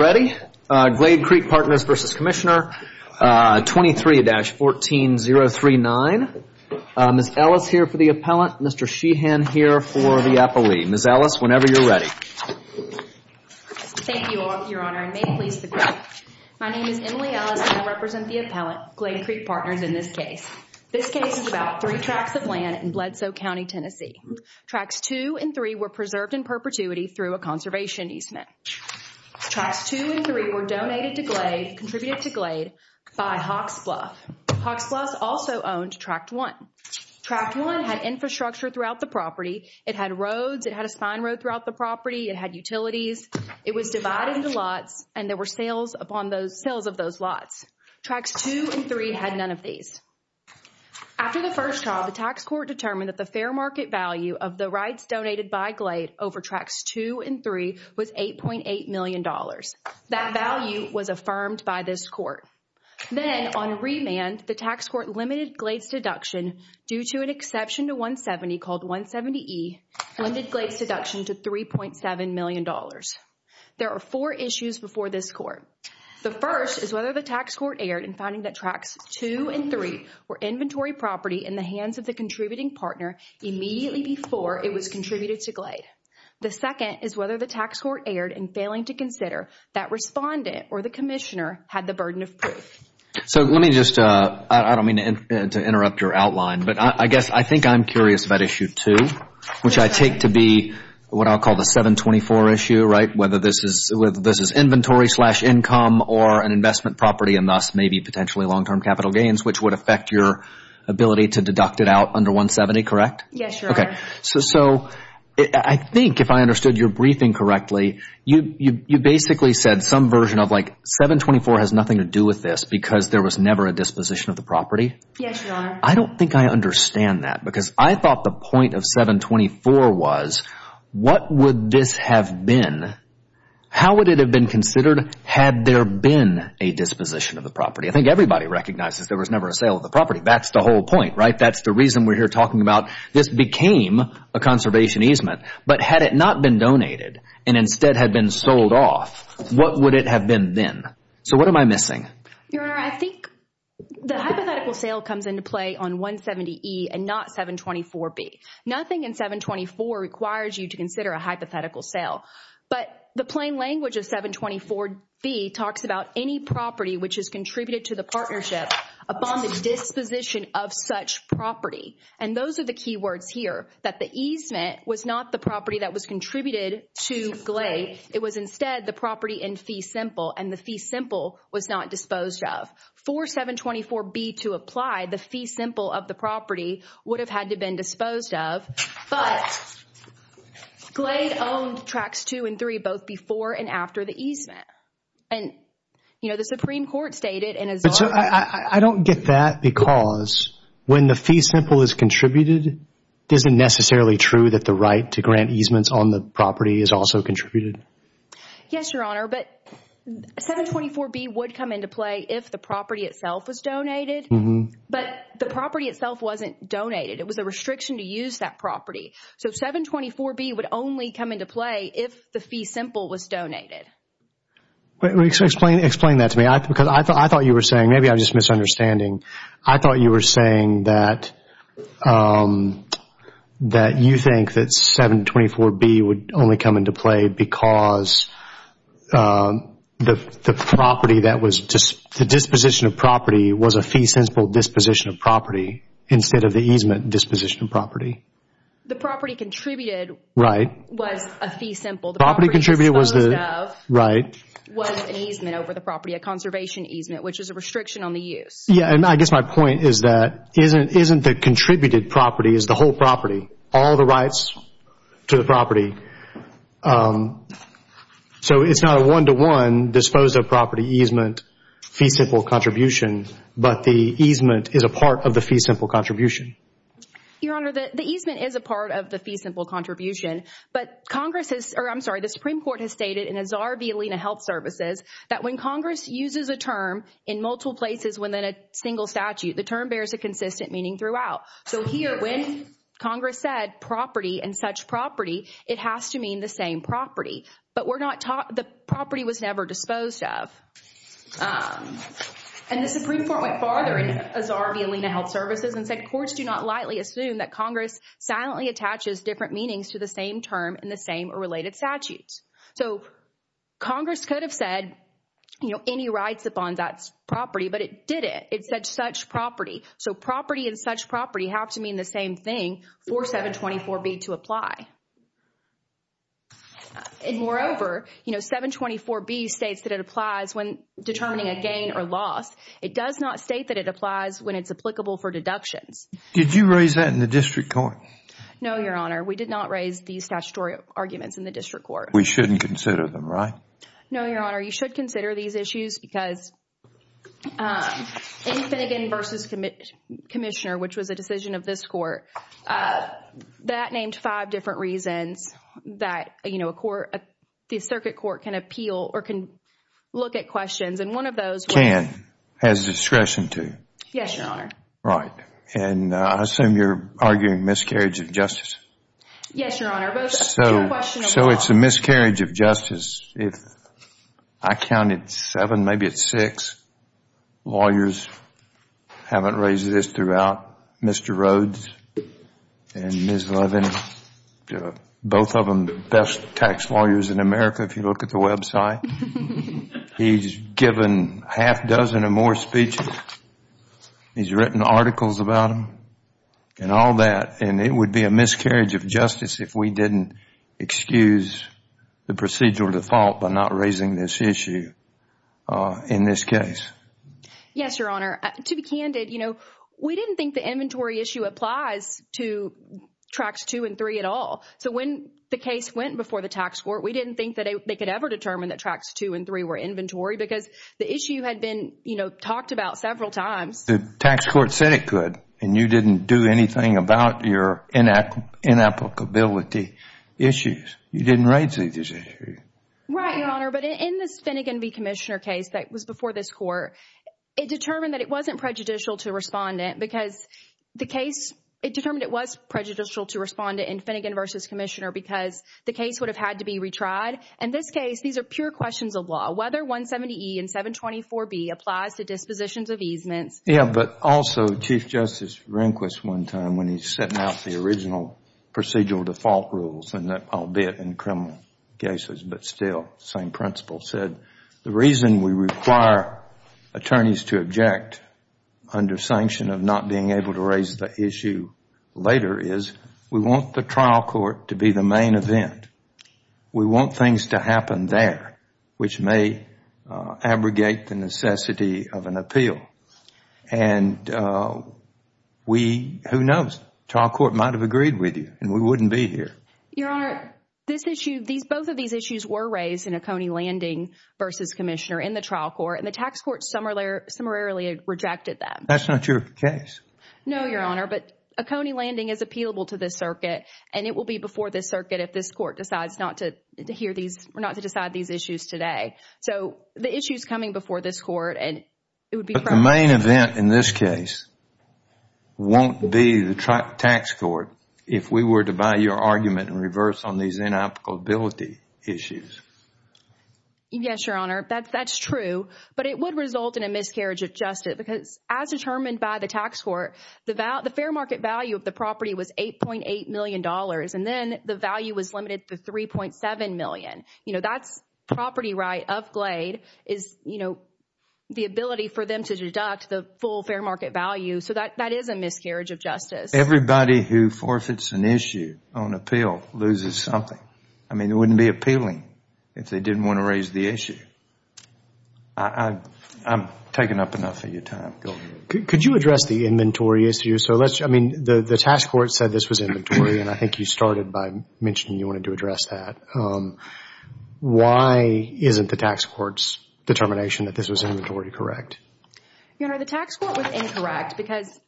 Ready? Glade Creek Partners v. Commissioner 23-14039. Ms. Ellis here for the appellant. Mr. Sheehan here for the appellee. Ms. Ellis, whenever you're ready. Thank you, Your Honor, and may it please the Court. My name is Emily Ellis, and I represent the appellant, Glade Creek Partners, in this case. This case is about three tracts of land in Bledsoe County, Tennessee. Tracts two and three were preserved in perpetuity through a conservation easement. Tracts two and three were donated to Glade, contributed to Glade by Hawks Bluff. Hawks Bluff also owned tract one. Tract one had infrastructure throughout the property. It had roads. It had a spine road throughout the property. It had utilities. It was divided into lots, and there were sales of those lots. Tracts two and three had none of these. After the first trial, the tax court determined that the fair market value of the rights donated by Glade over tracts two and three was $8.8 million. That value was affirmed by this court. Then, on remand, the tax court limited Glade's deduction, due to an exception to 170 called 170E, limited Glade's deduction to $3.7 million. There are four issues before this court. The first is whether the tax court erred in finding that tracts two and three were inventory property in the hands of the contributing partner immediately before it was contributed to Glade. The second is whether the tax court erred in failing to consider that respondent or the commissioner had the burden of proof. So let me just, I don't mean to interrupt your outline, but I guess I think I'm curious about issue two, which I take to be what I'll call the 724 issue, right? Whether this is inventory slash income or an investment property, and thus maybe potentially long-term capital gains, which would affect your ability to deduct it out under 170, correct? Yes, Your Honor. Okay. So I think if I understood your briefing correctly, you basically said some version of like 724 has nothing to do with this because there was never a disposition of the property. Yes, Your Honor. I don't think I understand that because I thought the point of 724 was, what would this have been? How would it have been considered had there been a disposition of the property? I think everybody recognizes there was never a sale of the property. That's the whole point, right? That's the reason we're here talking about this became a conservation easement, but had it not been donated and instead had been sold off, what would it have been then? So what am I missing? Your Honor, I think the hypothetical sale comes into play on 170E and not 724B. Nothing in 724 requires you to consider a hypothetical sale, but the plain language of 724B talks about any property which has contributed to the partnership upon the disposition of such property. And those are the key words here, that the easement was not the property that was contributed to Glade. It was instead the property in Fee Simple and the Fee Simple was not disposed of. For 724B to apply, the Fee Simple of the property would have had to been disposed of, but Glade owned Tracts 2 and 3 both before and after the easement. And, you know, the Supreme Court stated in a... But so I don't get that because when the Fee Simple is contributed, is it necessarily true that the right to grant easements on the property is also contributed? Yes, Your Honor, but 724B would come into play if the property itself was donated, but the property itself wasn't donated. It was a restriction to use that property. So 724B would only come into play if the Fee Simple was donated. But explain that to me because I thought you were saying, maybe I'm just misunderstanding, I thought you were saying that you think that 724B would only come into play because the disposition of property was a Fee Simple disposition of property instead of the easement disposition of property. The property contributed was a Fee Simple. The property contributed was the... Right. Was an easement over the property, a conservation easement, which is a restriction on the use. Yeah, and I guess my point is that isn't the contributed property is the whole property, all the rights to the property. So it's not a one-to-one disposal of property easement, Fee Simple contribution, but the easement is a part of the Fee Simple contribution. Your Honor, the easement is a part of the Fee Simple contribution, but Congress has, or I'm sorry, the Supreme Court has stated in Azhar v. Alena Health Services that when Congress uses a term in multiple places within a single statute, the term bears a consistent meaning throughout. So here, when Congress said property and such property, it has to mean the same property, but we're not taught the property was never disposed of. And the Supreme Court went farther in Azhar v. Alena Health Services and said courts do not lightly assume that Congress silently attaches different meanings to the same term in the same or related statutes. So Congress could have said, you know, any rights upon that property, but it didn't. It said such property. So property and such property have to mean the same thing for 724B to apply. Moreover, you know, 724B states that it applies when determining a gain or loss. It does not state that it applies when it's applicable for deductions. Did you raise that in the district court? No, Your Honor. We did not raise these statutory arguments in the district court. We shouldn't consider them, right? No, Your Honor. You should consider these issues because in Finnegan v. Commissioner, which was a decision of this court, that named five different reasons that, you know, the circuit court can appeal or can look at questions. And one of those... Can. Has discretion to. Yes, Your Honor. Right. And I assume you're arguing miscarriage of justice. Yes, Your Honor. So it's a miscarriage of justice. If I counted seven, maybe it's six lawyers haven't raised this throughout. Mr. Rhodes and Ms. Levin, both of them the best tax lawyers in America. If you look at the website, he's given half dozen or more speeches. He's written articles about them and all that. And it would be a miscarriage of justice if we didn't excuse the procedural default by not raising this issue in this case. Yes, Your Honor. To be candid, you know, we didn't think the inventory issue applies to Tracts 2 and 3 at all. So when the case went before the tax court, we didn't think that they could ever determine that Tracts 2 and 3 were inventory because the issue had been, you know, talked about several times. The tax court said it could and you didn't do anything about your inapplicability issues. You didn't raise these issues. Right, Your Honor. But in this Finnegan v. Commissioner case that was before this court, it determined that it wasn't prejudicial to respondent because the case, it determined it was prejudicial to respondent in Finnegan v. Commissioner because the case would have had to be retried. In this case, these are pure questions of law. Whether 170E and 724B applies to dispositions of easements. Yeah, but also Chief Justice Rehnquist one time when he's setting out the original procedural default rules, and that albeit in criminal cases, but still same principle, said the reason we require attorneys to object under sanction of not being able to raise the issue later is we want the trial court to be the main event. We want things to happen there, which may abrogate the necessity of an appeal. And we, who knows? Trial court might have agreed with you and we wouldn't be here. Your Honor, both of these issues were raised in Oconee Landing v. Commissioner in the trial court and the tax court summarily rejected that. That's not your case? No, Your Honor, but Oconee Landing is appealable to this circuit and it will be before this circuit if this court decides not to hear these, not to decide these issues today. So the issue is coming before this court and it would be- But the main event in this case won't be the tax court if we were to buy your argument in reverse on these inapplicability issues. Yes, Your Honor, that's true. But it would result in a miscarriage of justice because as determined by the tax court, the fair market value of the property was $8.8 million. And then the value was limited to $3.7 million. You know, that's property right of Glade is, you know, the ability for them to deduct the full fair market value. So that is a miscarriage of justice. Everybody who forfeits an issue on appeal loses something. I mean, it wouldn't be appealing if they didn't want to raise the issue. I've taken up enough of your time. Could you address the inventory issue? So let's, I mean, the tax court said this was inventory. And I think you started by mentioning you wanted to address that. Why isn't the tax court's determination that this was inventory correct? Your Honor, the tax court was incorrect because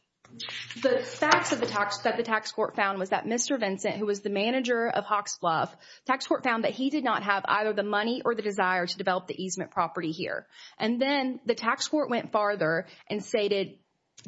the facts of the tax that the tax court found was that Mr. Vincent, who was the manager of Hawks Fluff, tax court found that he did not have either the money or the desire to develop the easement property here. And then the tax court went farther and stated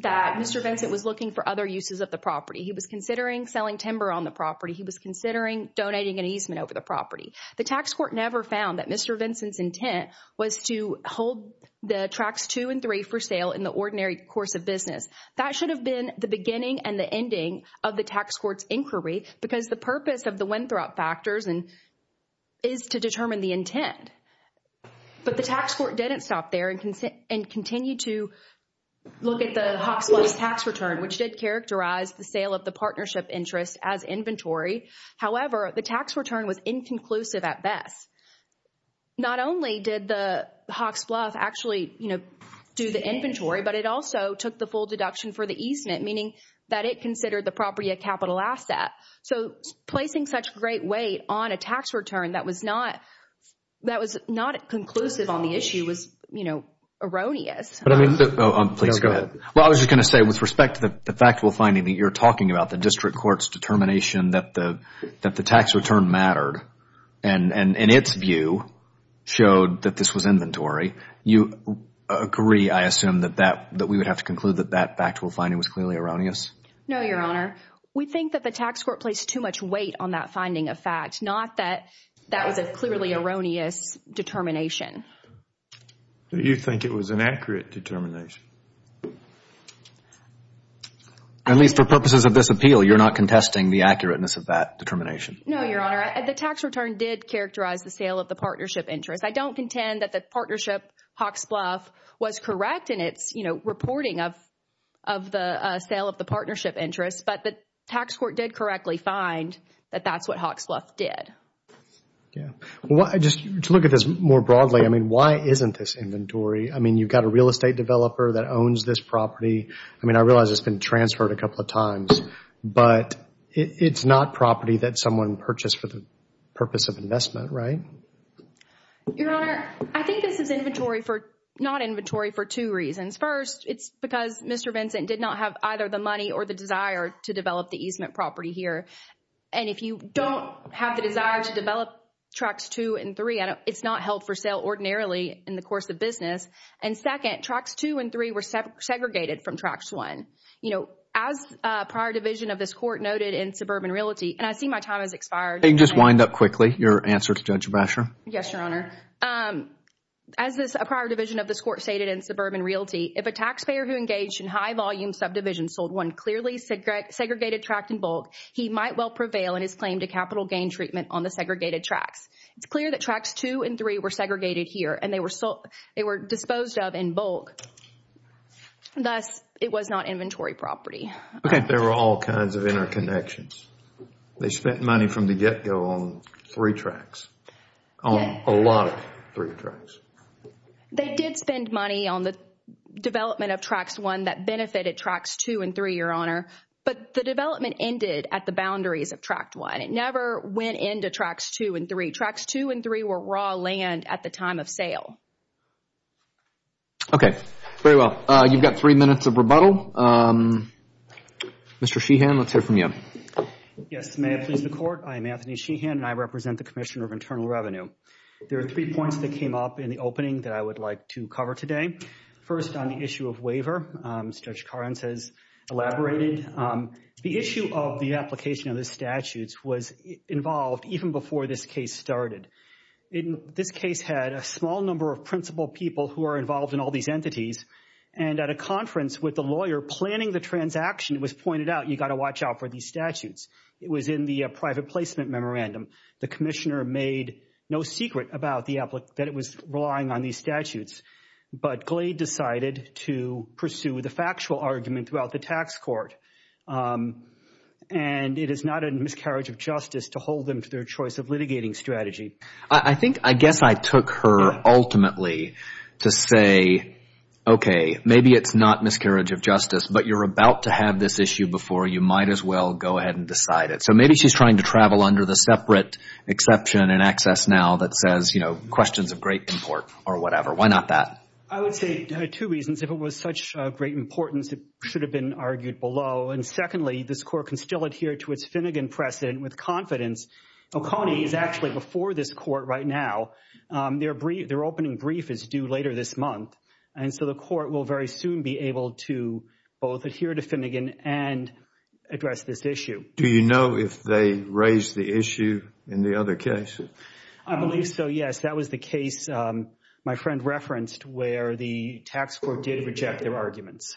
that Mr. Vincent was looking for other uses of the property. He was considering selling timber on the property. He was considering donating an easement over the property. The tax court never found that Mr. Vincent's intent was to hold the tracks two and three for sale in the ordinary course of business. That should have been the beginning and the ending of the tax court's inquiry because the purpose of the Winthrop factors is to determine the intent. But the tax court didn't stop there and continue to look at the Hawks Fluff's tax return, which did characterize the sale of the partnership interest as inventory. However, the tax return was inconclusive at best. Not only did the Hawks Fluff actually, you know, do the inventory, but it also took the full deduction for the easement, meaning that it considered the property a capital asset. So placing such great weight on a tax return, that was not, that was not conclusive on the issue was, you know, erroneous. But I mean, please go ahead. Well, I was just going to say with respect to the factual finding that you're talking about, the district court's determination that the, that the tax return mattered and its view showed that this was inventory. You agree, I assume, that that, that we would have to conclude that that factual finding was clearly erroneous? No, Your Honor. We think that the tax court placed too much weight on that finding of fact. Not that, that was a clearly erroneous determination. You think it was an accurate determination? At least for purposes of this appeal, you're not contesting the accurateness of that determination. No, Your Honor. The tax return did characterize the sale of the partnership interest. I don't contend that the partnership Hawks Fluff was correct in its, you know, reporting of, of the sale of the partnership interest. But the tax court did correctly find that that's what Hawks Fluff did. Well, I just, to look at this more broadly, I mean, why isn't this inventory? I mean, you've got a real estate developer that owns this property. I mean, I realize it's been transferred a couple of times, but it's not property that someone purchased for the purpose of investment, right? Your Honor, I think this is inventory for, not inventory for two reasons. First, it's because Mr. Vincent did not have either the money or the desire to develop the easement property here. And if you don't have the desire to develop Tracts 2 and 3, it's not held for sale ordinarily in the course of business. And second, Tracts 2 and 3 were segregated from Tracts 1. You know, as a prior division of this court noted in Suburban Realty, and I see my time has expired. Can you just wind up quickly your answer to Judge Brasher? Yes, Your Honor. As this prior division of this court stated in Suburban Realty, if a taxpayer who engaged in high-volume subdivisions sold one clearly segregated tract in bulk, he might well prevail in his claim to capital gain treatment on the segregated tracts. It's clear that Tracts 2 and 3 were segregated here, and they were disposed of in bulk. Thus, it was not inventory property. Okay, there were all kinds of interconnections. They spent money from the get-go on three tracts. On a lot of three tracts. They did spend money on the development of Tracts 1 that benefited Tracts 2 and 3, Your Honor. But the development ended at the boundaries of Tract 1. It never went into Tracts 2 and 3. Tracts 2 and 3 were raw land at the time of sale. Okay, very well. You've got three minutes of rebuttal. Mr. Sheehan, let's hear from you. Yes, may it please the Court. I am Anthony Sheehan, and I represent the Commissioner of Internal Revenue. There are three points that came up in the opening that I would like to cover today. First, on the issue of waiver, as Judge Karnes has elaborated, the issue of the application of the statutes was involved even before this case started. In this case, had a small number of principal people who are involved in all these entities. And at a conference with the lawyer planning the transaction, it was pointed out, you've got to watch out for these statutes. It was in the private placement memorandum. The Commissioner made no secret about that it was relying on these statutes. But Glade decided to pursue the factual argument throughout the tax court. And it is not a miscarriage of justice to hold them to their choice of litigating strategy. I think, I guess I took her ultimately to say, okay, maybe it's not miscarriage of justice, but you're about to have this issue before you might as well go ahead and decide it. So maybe she's trying to travel under the separate exception and access now that says, you know, questions of great import or whatever. Why not that? I would say two reasons. If it was such a great importance, it should have been argued below. And secondly, this court can still adhere to its Finnegan precedent with confidence. Oconee is actually before this court right now. Their opening brief is due later this month. And so the court will very soon be able to both adhere to Finnegan and address this issue. Do you know if they raised the issue in the other case? I believe so, yes. That was the case my friend referenced where the tax court did reject their arguments.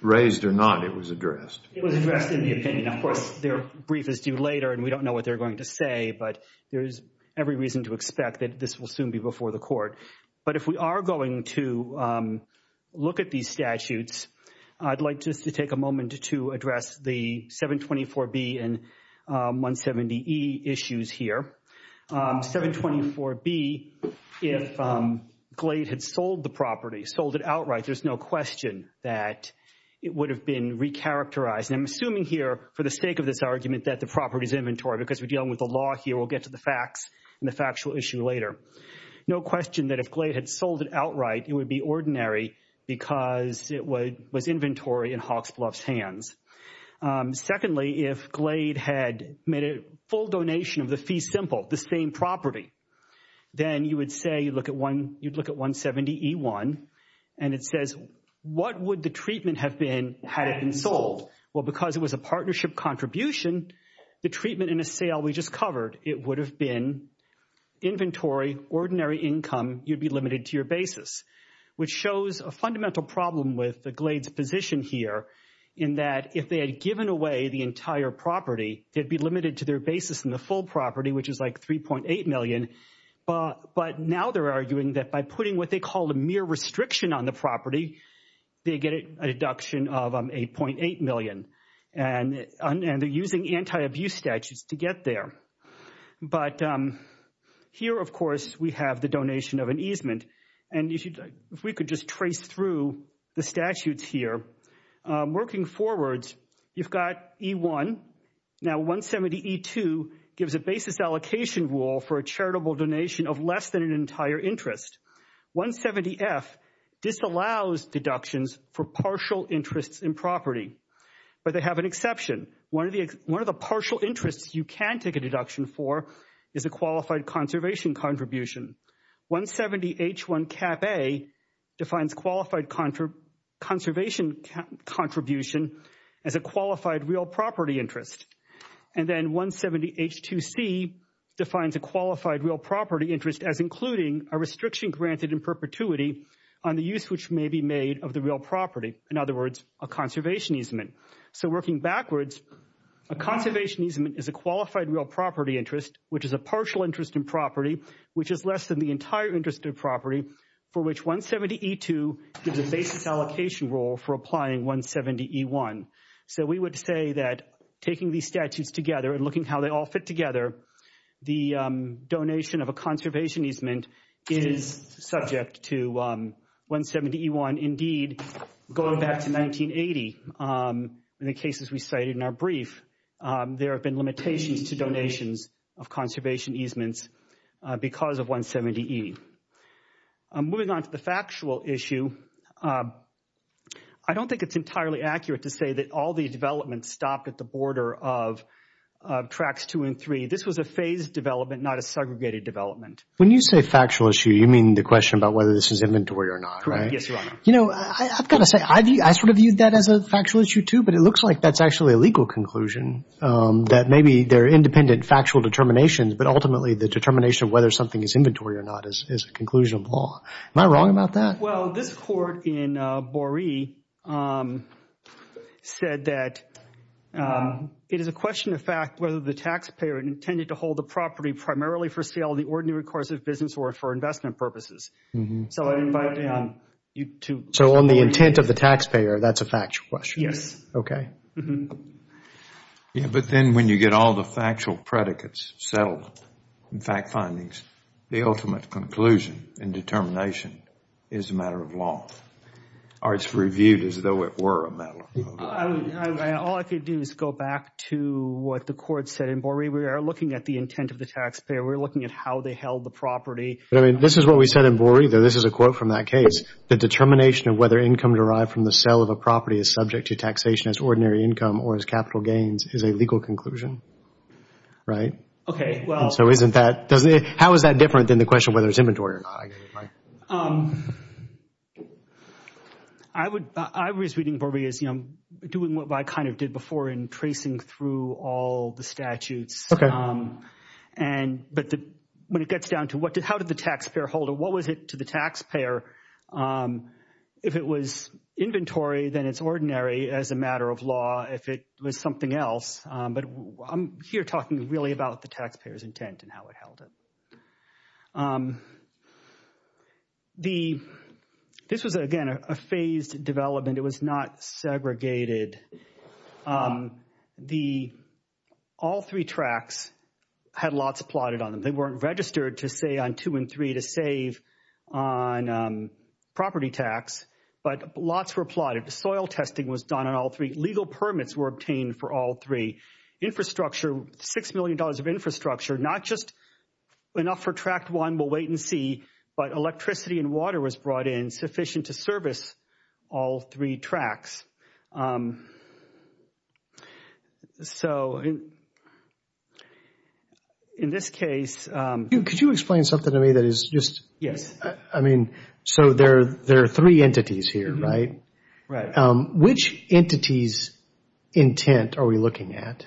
Raised or not, it was addressed. It was addressed in the opinion. Of course, their brief is due later and we don't know what they're going to say. But there's every reason to expect that this will soon be before the court. But if we are going to look at these statutes, I'd like just to take a moment to address the 724B and 170E issues here. 724B, if Glade had sold the property, sold it outright, there's no question that it would have been recharacterized. And I'm assuming here for the sake of this argument that the property is inventory because we're dealing with the law here. We'll get to the facts and the factual issue later. No question that if Glade had sold it outright, it would be ordinary because it was inventory in Hawksbluff's hands. Secondly, if Glade had made a full donation of the fee simple, the same property, then you would say, you'd look at 170E1 and it says, what would the treatment have been had it been sold? Well, because it was a partnership contribution, the treatment in a sale we just covered, it would have been inventory, ordinary income, you'd be limited to your basis. Which shows a fundamental problem with the Glade's position here in that if they had given away the entire property, they'd be limited to their basis in the full property, which is like $3.8 million. But now they're arguing that by putting what they call a mere restriction on the property, they get a deduction of $8.8 million. And they're using anti-abuse statutes to get there. But here, of course, we have the donation of an easement. And if we could just trace through the statutes here. Working forwards, you've got E1, now 170E2 gives a basis allocation rule for a charitable donation of less than an entire interest. 170F disallows deductions for partial interests in property. But they have an exception. One of the partial interests you can take a deduction for is a qualified conservation contribution. 170H1CapA defines qualified conservation contribution as a qualified real property interest. And then 170H2C defines a qualified real property interest as including a restriction granted in perpetuity on the use which may be made of the real property. In other words, a conservation easement. So working backwards, a conservation easement is a qualified real property interest, which is a partial interest in property, which is less than the entire interest of property, for which 170E2 gives a basis allocation rule for applying 170E1. So we would say that taking these statutes together and looking how they all fit together, the donation of a conservation easement is subject to 170E1. Indeed, going back to 1980, in the cases we cited in our brief, there have been limitations to donations. of conservation easements because of 170E. Moving on to the factual issue, I don't think it's entirely accurate to say that all the developments stopped at the border of Tracts 2 and 3. This was a phased development, not a segregated development. When you say factual issue, you mean the question about whether this is inventory or not, right? Yes, Your Honor. You know, I've got to say, I sort of viewed that as a factual issue too, but it looks like that's actually a legal conclusion. That maybe they're independent factual determinations, but ultimately the determination of whether something is inventory or not is a conclusion of law. Am I wrong about that? Well, this court in Boree said that it is a question of fact whether the taxpayer intended to hold the property primarily for sale, the ordinary course of business, or for investment purposes. So I invite you to... So on the intent of the taxpayer, that's a factual question? Yes. Okay. Yeah, but then when you get all the factual predicates settled, in fact findings, the ultimate conclusion and determination is a matter of law, or it's reviewed as though it were a matter of law. All I could do is go back to what the court said in Boree. We are looking at the intent of the taxpayer. We're looking at how they held the property. But I mean, this is what we said in Boree, though this is a quote from that case. The determination of whether income derived from the sale of a property is subject to taxation as ordinary income or as capital gains is a legal conclusion, right? Okay, well... And so isn't that... How is that different than the question whether it's inventory or not? I was reading Boree as, you know, doing what I kind of did before in tracing through all the statutes. Okay. But when it gets down to how did the taxpayer hold it, what was it to the taxpayer? If it was inventory, then it's ordinary as a matter of law. If it was something else, but I'm here talking really about the taxpayer's intent and how it held it. This was, again, a phased development. It was not segregated. All three tracts had lots plotted on them. They weren't registered to say on two and three to save on property tax, but lots were plotted. Soil testing was done on all three. Legal permits were obtained for all three. Infrastructure, six million dollars of infrastructure, not just enough for tract one, we'll wait and see, but electricity and water was brought in sufficient to service all three tracts. So in this case... Could you explain something to me that is just... I mean, so there are three entities here, right? Right. Which entity's intent are we looking at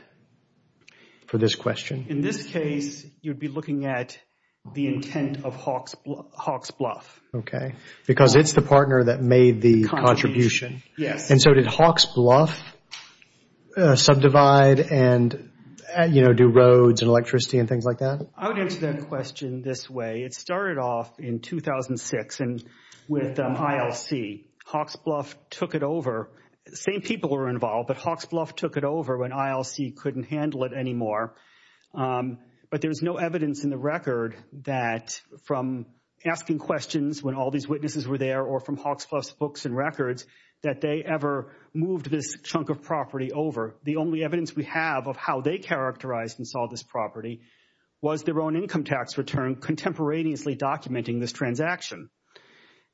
for this question? In this case, you'd be looking at the intent of Hawks Bluff. Okay. Because it's the partner that made the contribution. Yes. And so did Hawks Bluff subdivide and, you know, do roads and electricity and things like that? I would answer that question this way. It started off in 2006 with ILC. Hawks Bluff took it over. Same people were involved, but Hawks Bluff took it over when ILC couldn't handle it anymore. But there's no evidence in the record that from asking questions when all these witnesses were there or from Hawks Bluff's books and records that they ever moved this chunk of property over. The only evidence we have of how they characterized and saw this property was their own income tax return contemporaneously documenting this transaction.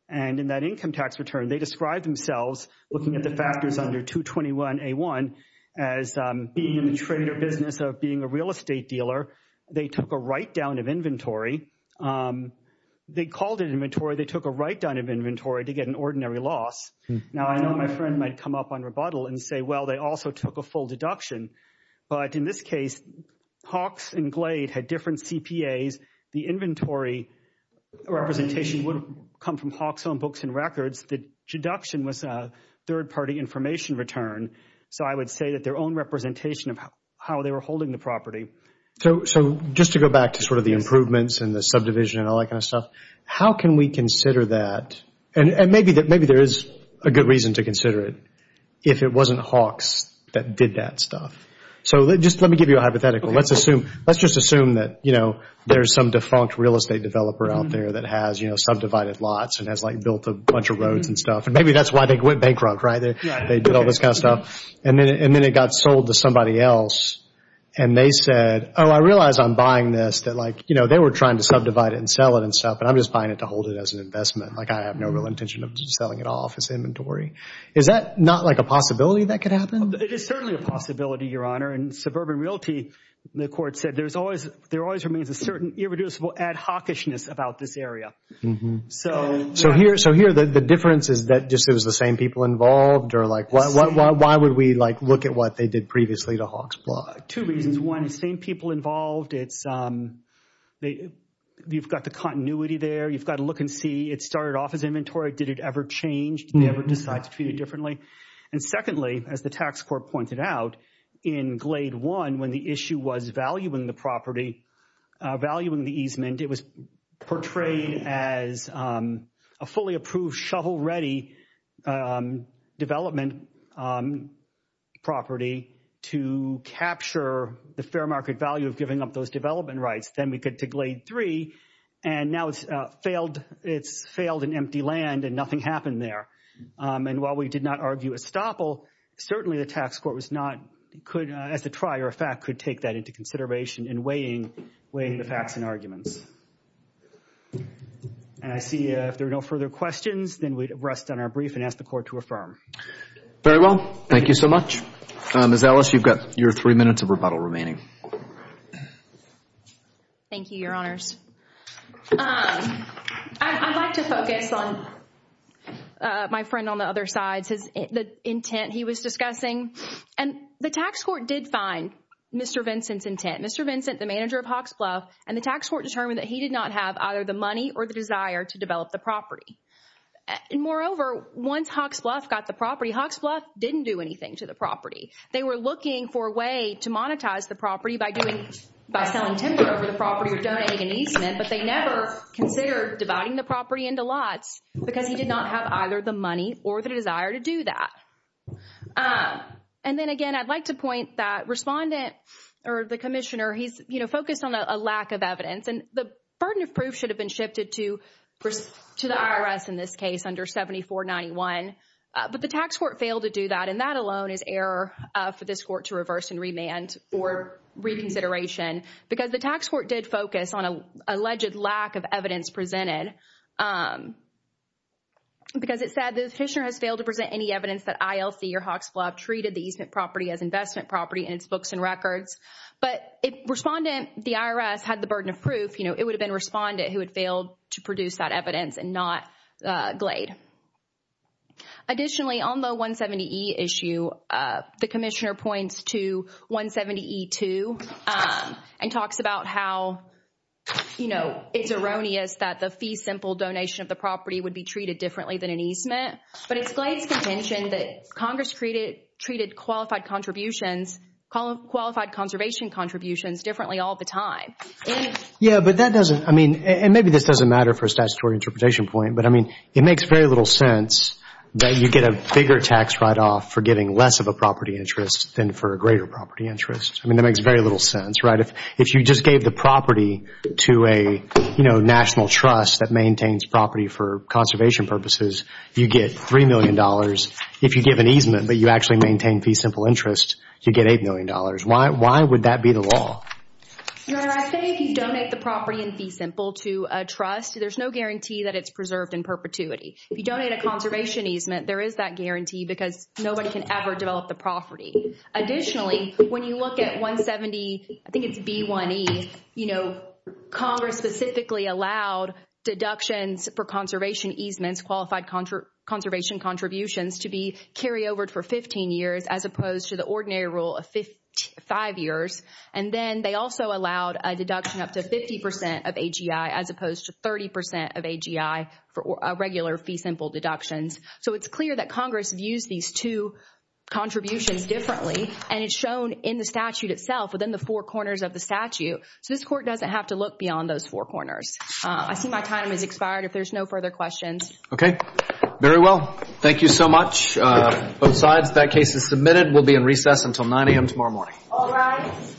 And in that income tax return, they described themselves looking at the factors under 221A1 as being in the trader business of being a real estate dealer. They took a write-down of inventory. They called it inventory. They took a write-down of inventory to get an ordinary loss. Now, I know my friend might come up on rebuttal and say, well, they also took a full deduction. But in this case, Hawks and Glade had different CPAs. The inventory representation would come from Hawks' own books and records. The deduction was a third-party information return. So I would say that their own representation of how they were holding the property. So just to go back to sort of the improvements and the subdivision and all that kind of stuff, how can we consider that? And maybe there is a good reason to consider it if it wasn't Hawks that did that stuff. So just let me give you a hypothetical. Let's just assume that there's some defunct real estate developer out there that has subdivided lots and has built a bunch of roads and stuff. And maybe that's why they went bankrupt, right? They did all this kind of stuff. And then it got sold to somebody else. And they said, oh, I realize I'm buying this. They were trying to subdivide it and sell it and stuff. And I'm just buying it to hold it as an investment. I have no real intention of selling it off as inventory. Is that not like a possibility that could happen? It is certainly a possibility, Your Honor. And suburban realty, the court said there always remains a certain irreducible ad-Hawkishness about this area. So here the difference is that just it was the same people involved? Or like why would we like look at what they did previously to Hawks Block? Two reasons. One, the same people involved. You've got the continuity there. You've got to look and see it started off as inventory. Did it ever change? Did they ever decide to treat it differently? And secondly, as the tax court pointed out in Glade 1, when the issue was valuing the property, valuing the easement, it was portrayed as a fully approved, shovel-ready development property to capture the fair market value of giving up those development rights. Then we get to Glade 3 and now it's failed. It's failed in empty land and nothing happened there. And while we did not argue estoppel, certainly the tax court was not, as a trier of fact, could take that into consideration in weighing the facts and arguments. And I see if there are no further questions, then we'd rest on our brief and ask the court to affirm. Very well. Thank you so much. Ms. Ellis, you've got your three minutes of rebuttal remaining. Thank you, Your Honors. I'd like to focus on my friend on the other side, the intent he was discussing. And the tax court did find Mr. Vincent's intent. Mr. Vincent, the manager of Hawks Bluff, and the tax court determined that he did not have either the money or the desire to develop the property. And moreover, once Hawks Bluff got the property, Hawks Bluff didn't do anything to the property. They were looking for a way to monetize the property by selling timber over the property or donating an easement. But they never considered dividing the property into lots because he did not have either the money or the desire to do that. And then again, I'd like to point that respondent or the commissioner, he's focused on a lack of evidence. And the burden of proof should have been shifted to the IRS in this case under 7491. But the tax court failed to do that. And that alone is error for this court to reverse and remand for reconsideration. Because the tax court did focus on an alleged lack of evidence presented. Because it said the petitioner has failed to present any evidence that ILC or Hawks Bluff treated the easement property as investment property in its books and records. But if respondent, the IRS, had the burden of proof, you know, it would have been respondent who had failed to produce that evidence and not Glade. Additionally, on the 170E issue, the commissioner points to 170E2. And talks about how, you know, it's erroneous that the fee simple donation of the property would be treated differently than an easement. But it's Glade's contention that Congress treated qualified contributions, qualified conservation contributions differently all the time. Yeah, but that doesn't, I mean, and maybe this doesn't matter for a statutory interpretation point. But I mean, it makes very little sense that you get a bigger tax write-off for getting less of a property interest than for a greater property interest. I mean, that makes very little sense, right? If you just gave the property to a, you know, national trust that maintains property for conservation purposes, you get $3 million. If you give an easement, but you actually maintain fee simple interest, you get $8 million. Why would that be the law? Your Honor, I think if you donate the property in fee simple to a trust, there's no guarantee that it's preserved in perpetuity. If you donate a conservation easement, there is that guarantee because nobody can ever develop the property. Additionally, when you look at 170, I think it's B1E, you know, Congress specifically allowed deductions for conservation easements, qualified conservation contributions to be carryover for 15 years as opposed to the ordinary rule of five years. And then they also allowed a deduction up to 50% of AGI as opposed to 30% of AGI for a regular fee simple deductions. So it's clear that Congress views these two contributions differently and it's shown in the statute itself within the four corners of the statute. So this court doesn't have to look beyond those four corners. I see my time has expired. If there's no further questions. Okay, very well. Thank you so much. Both sides, that case is submitted. We'll be in recess until 9 a.m. tomorrow morning. All rise.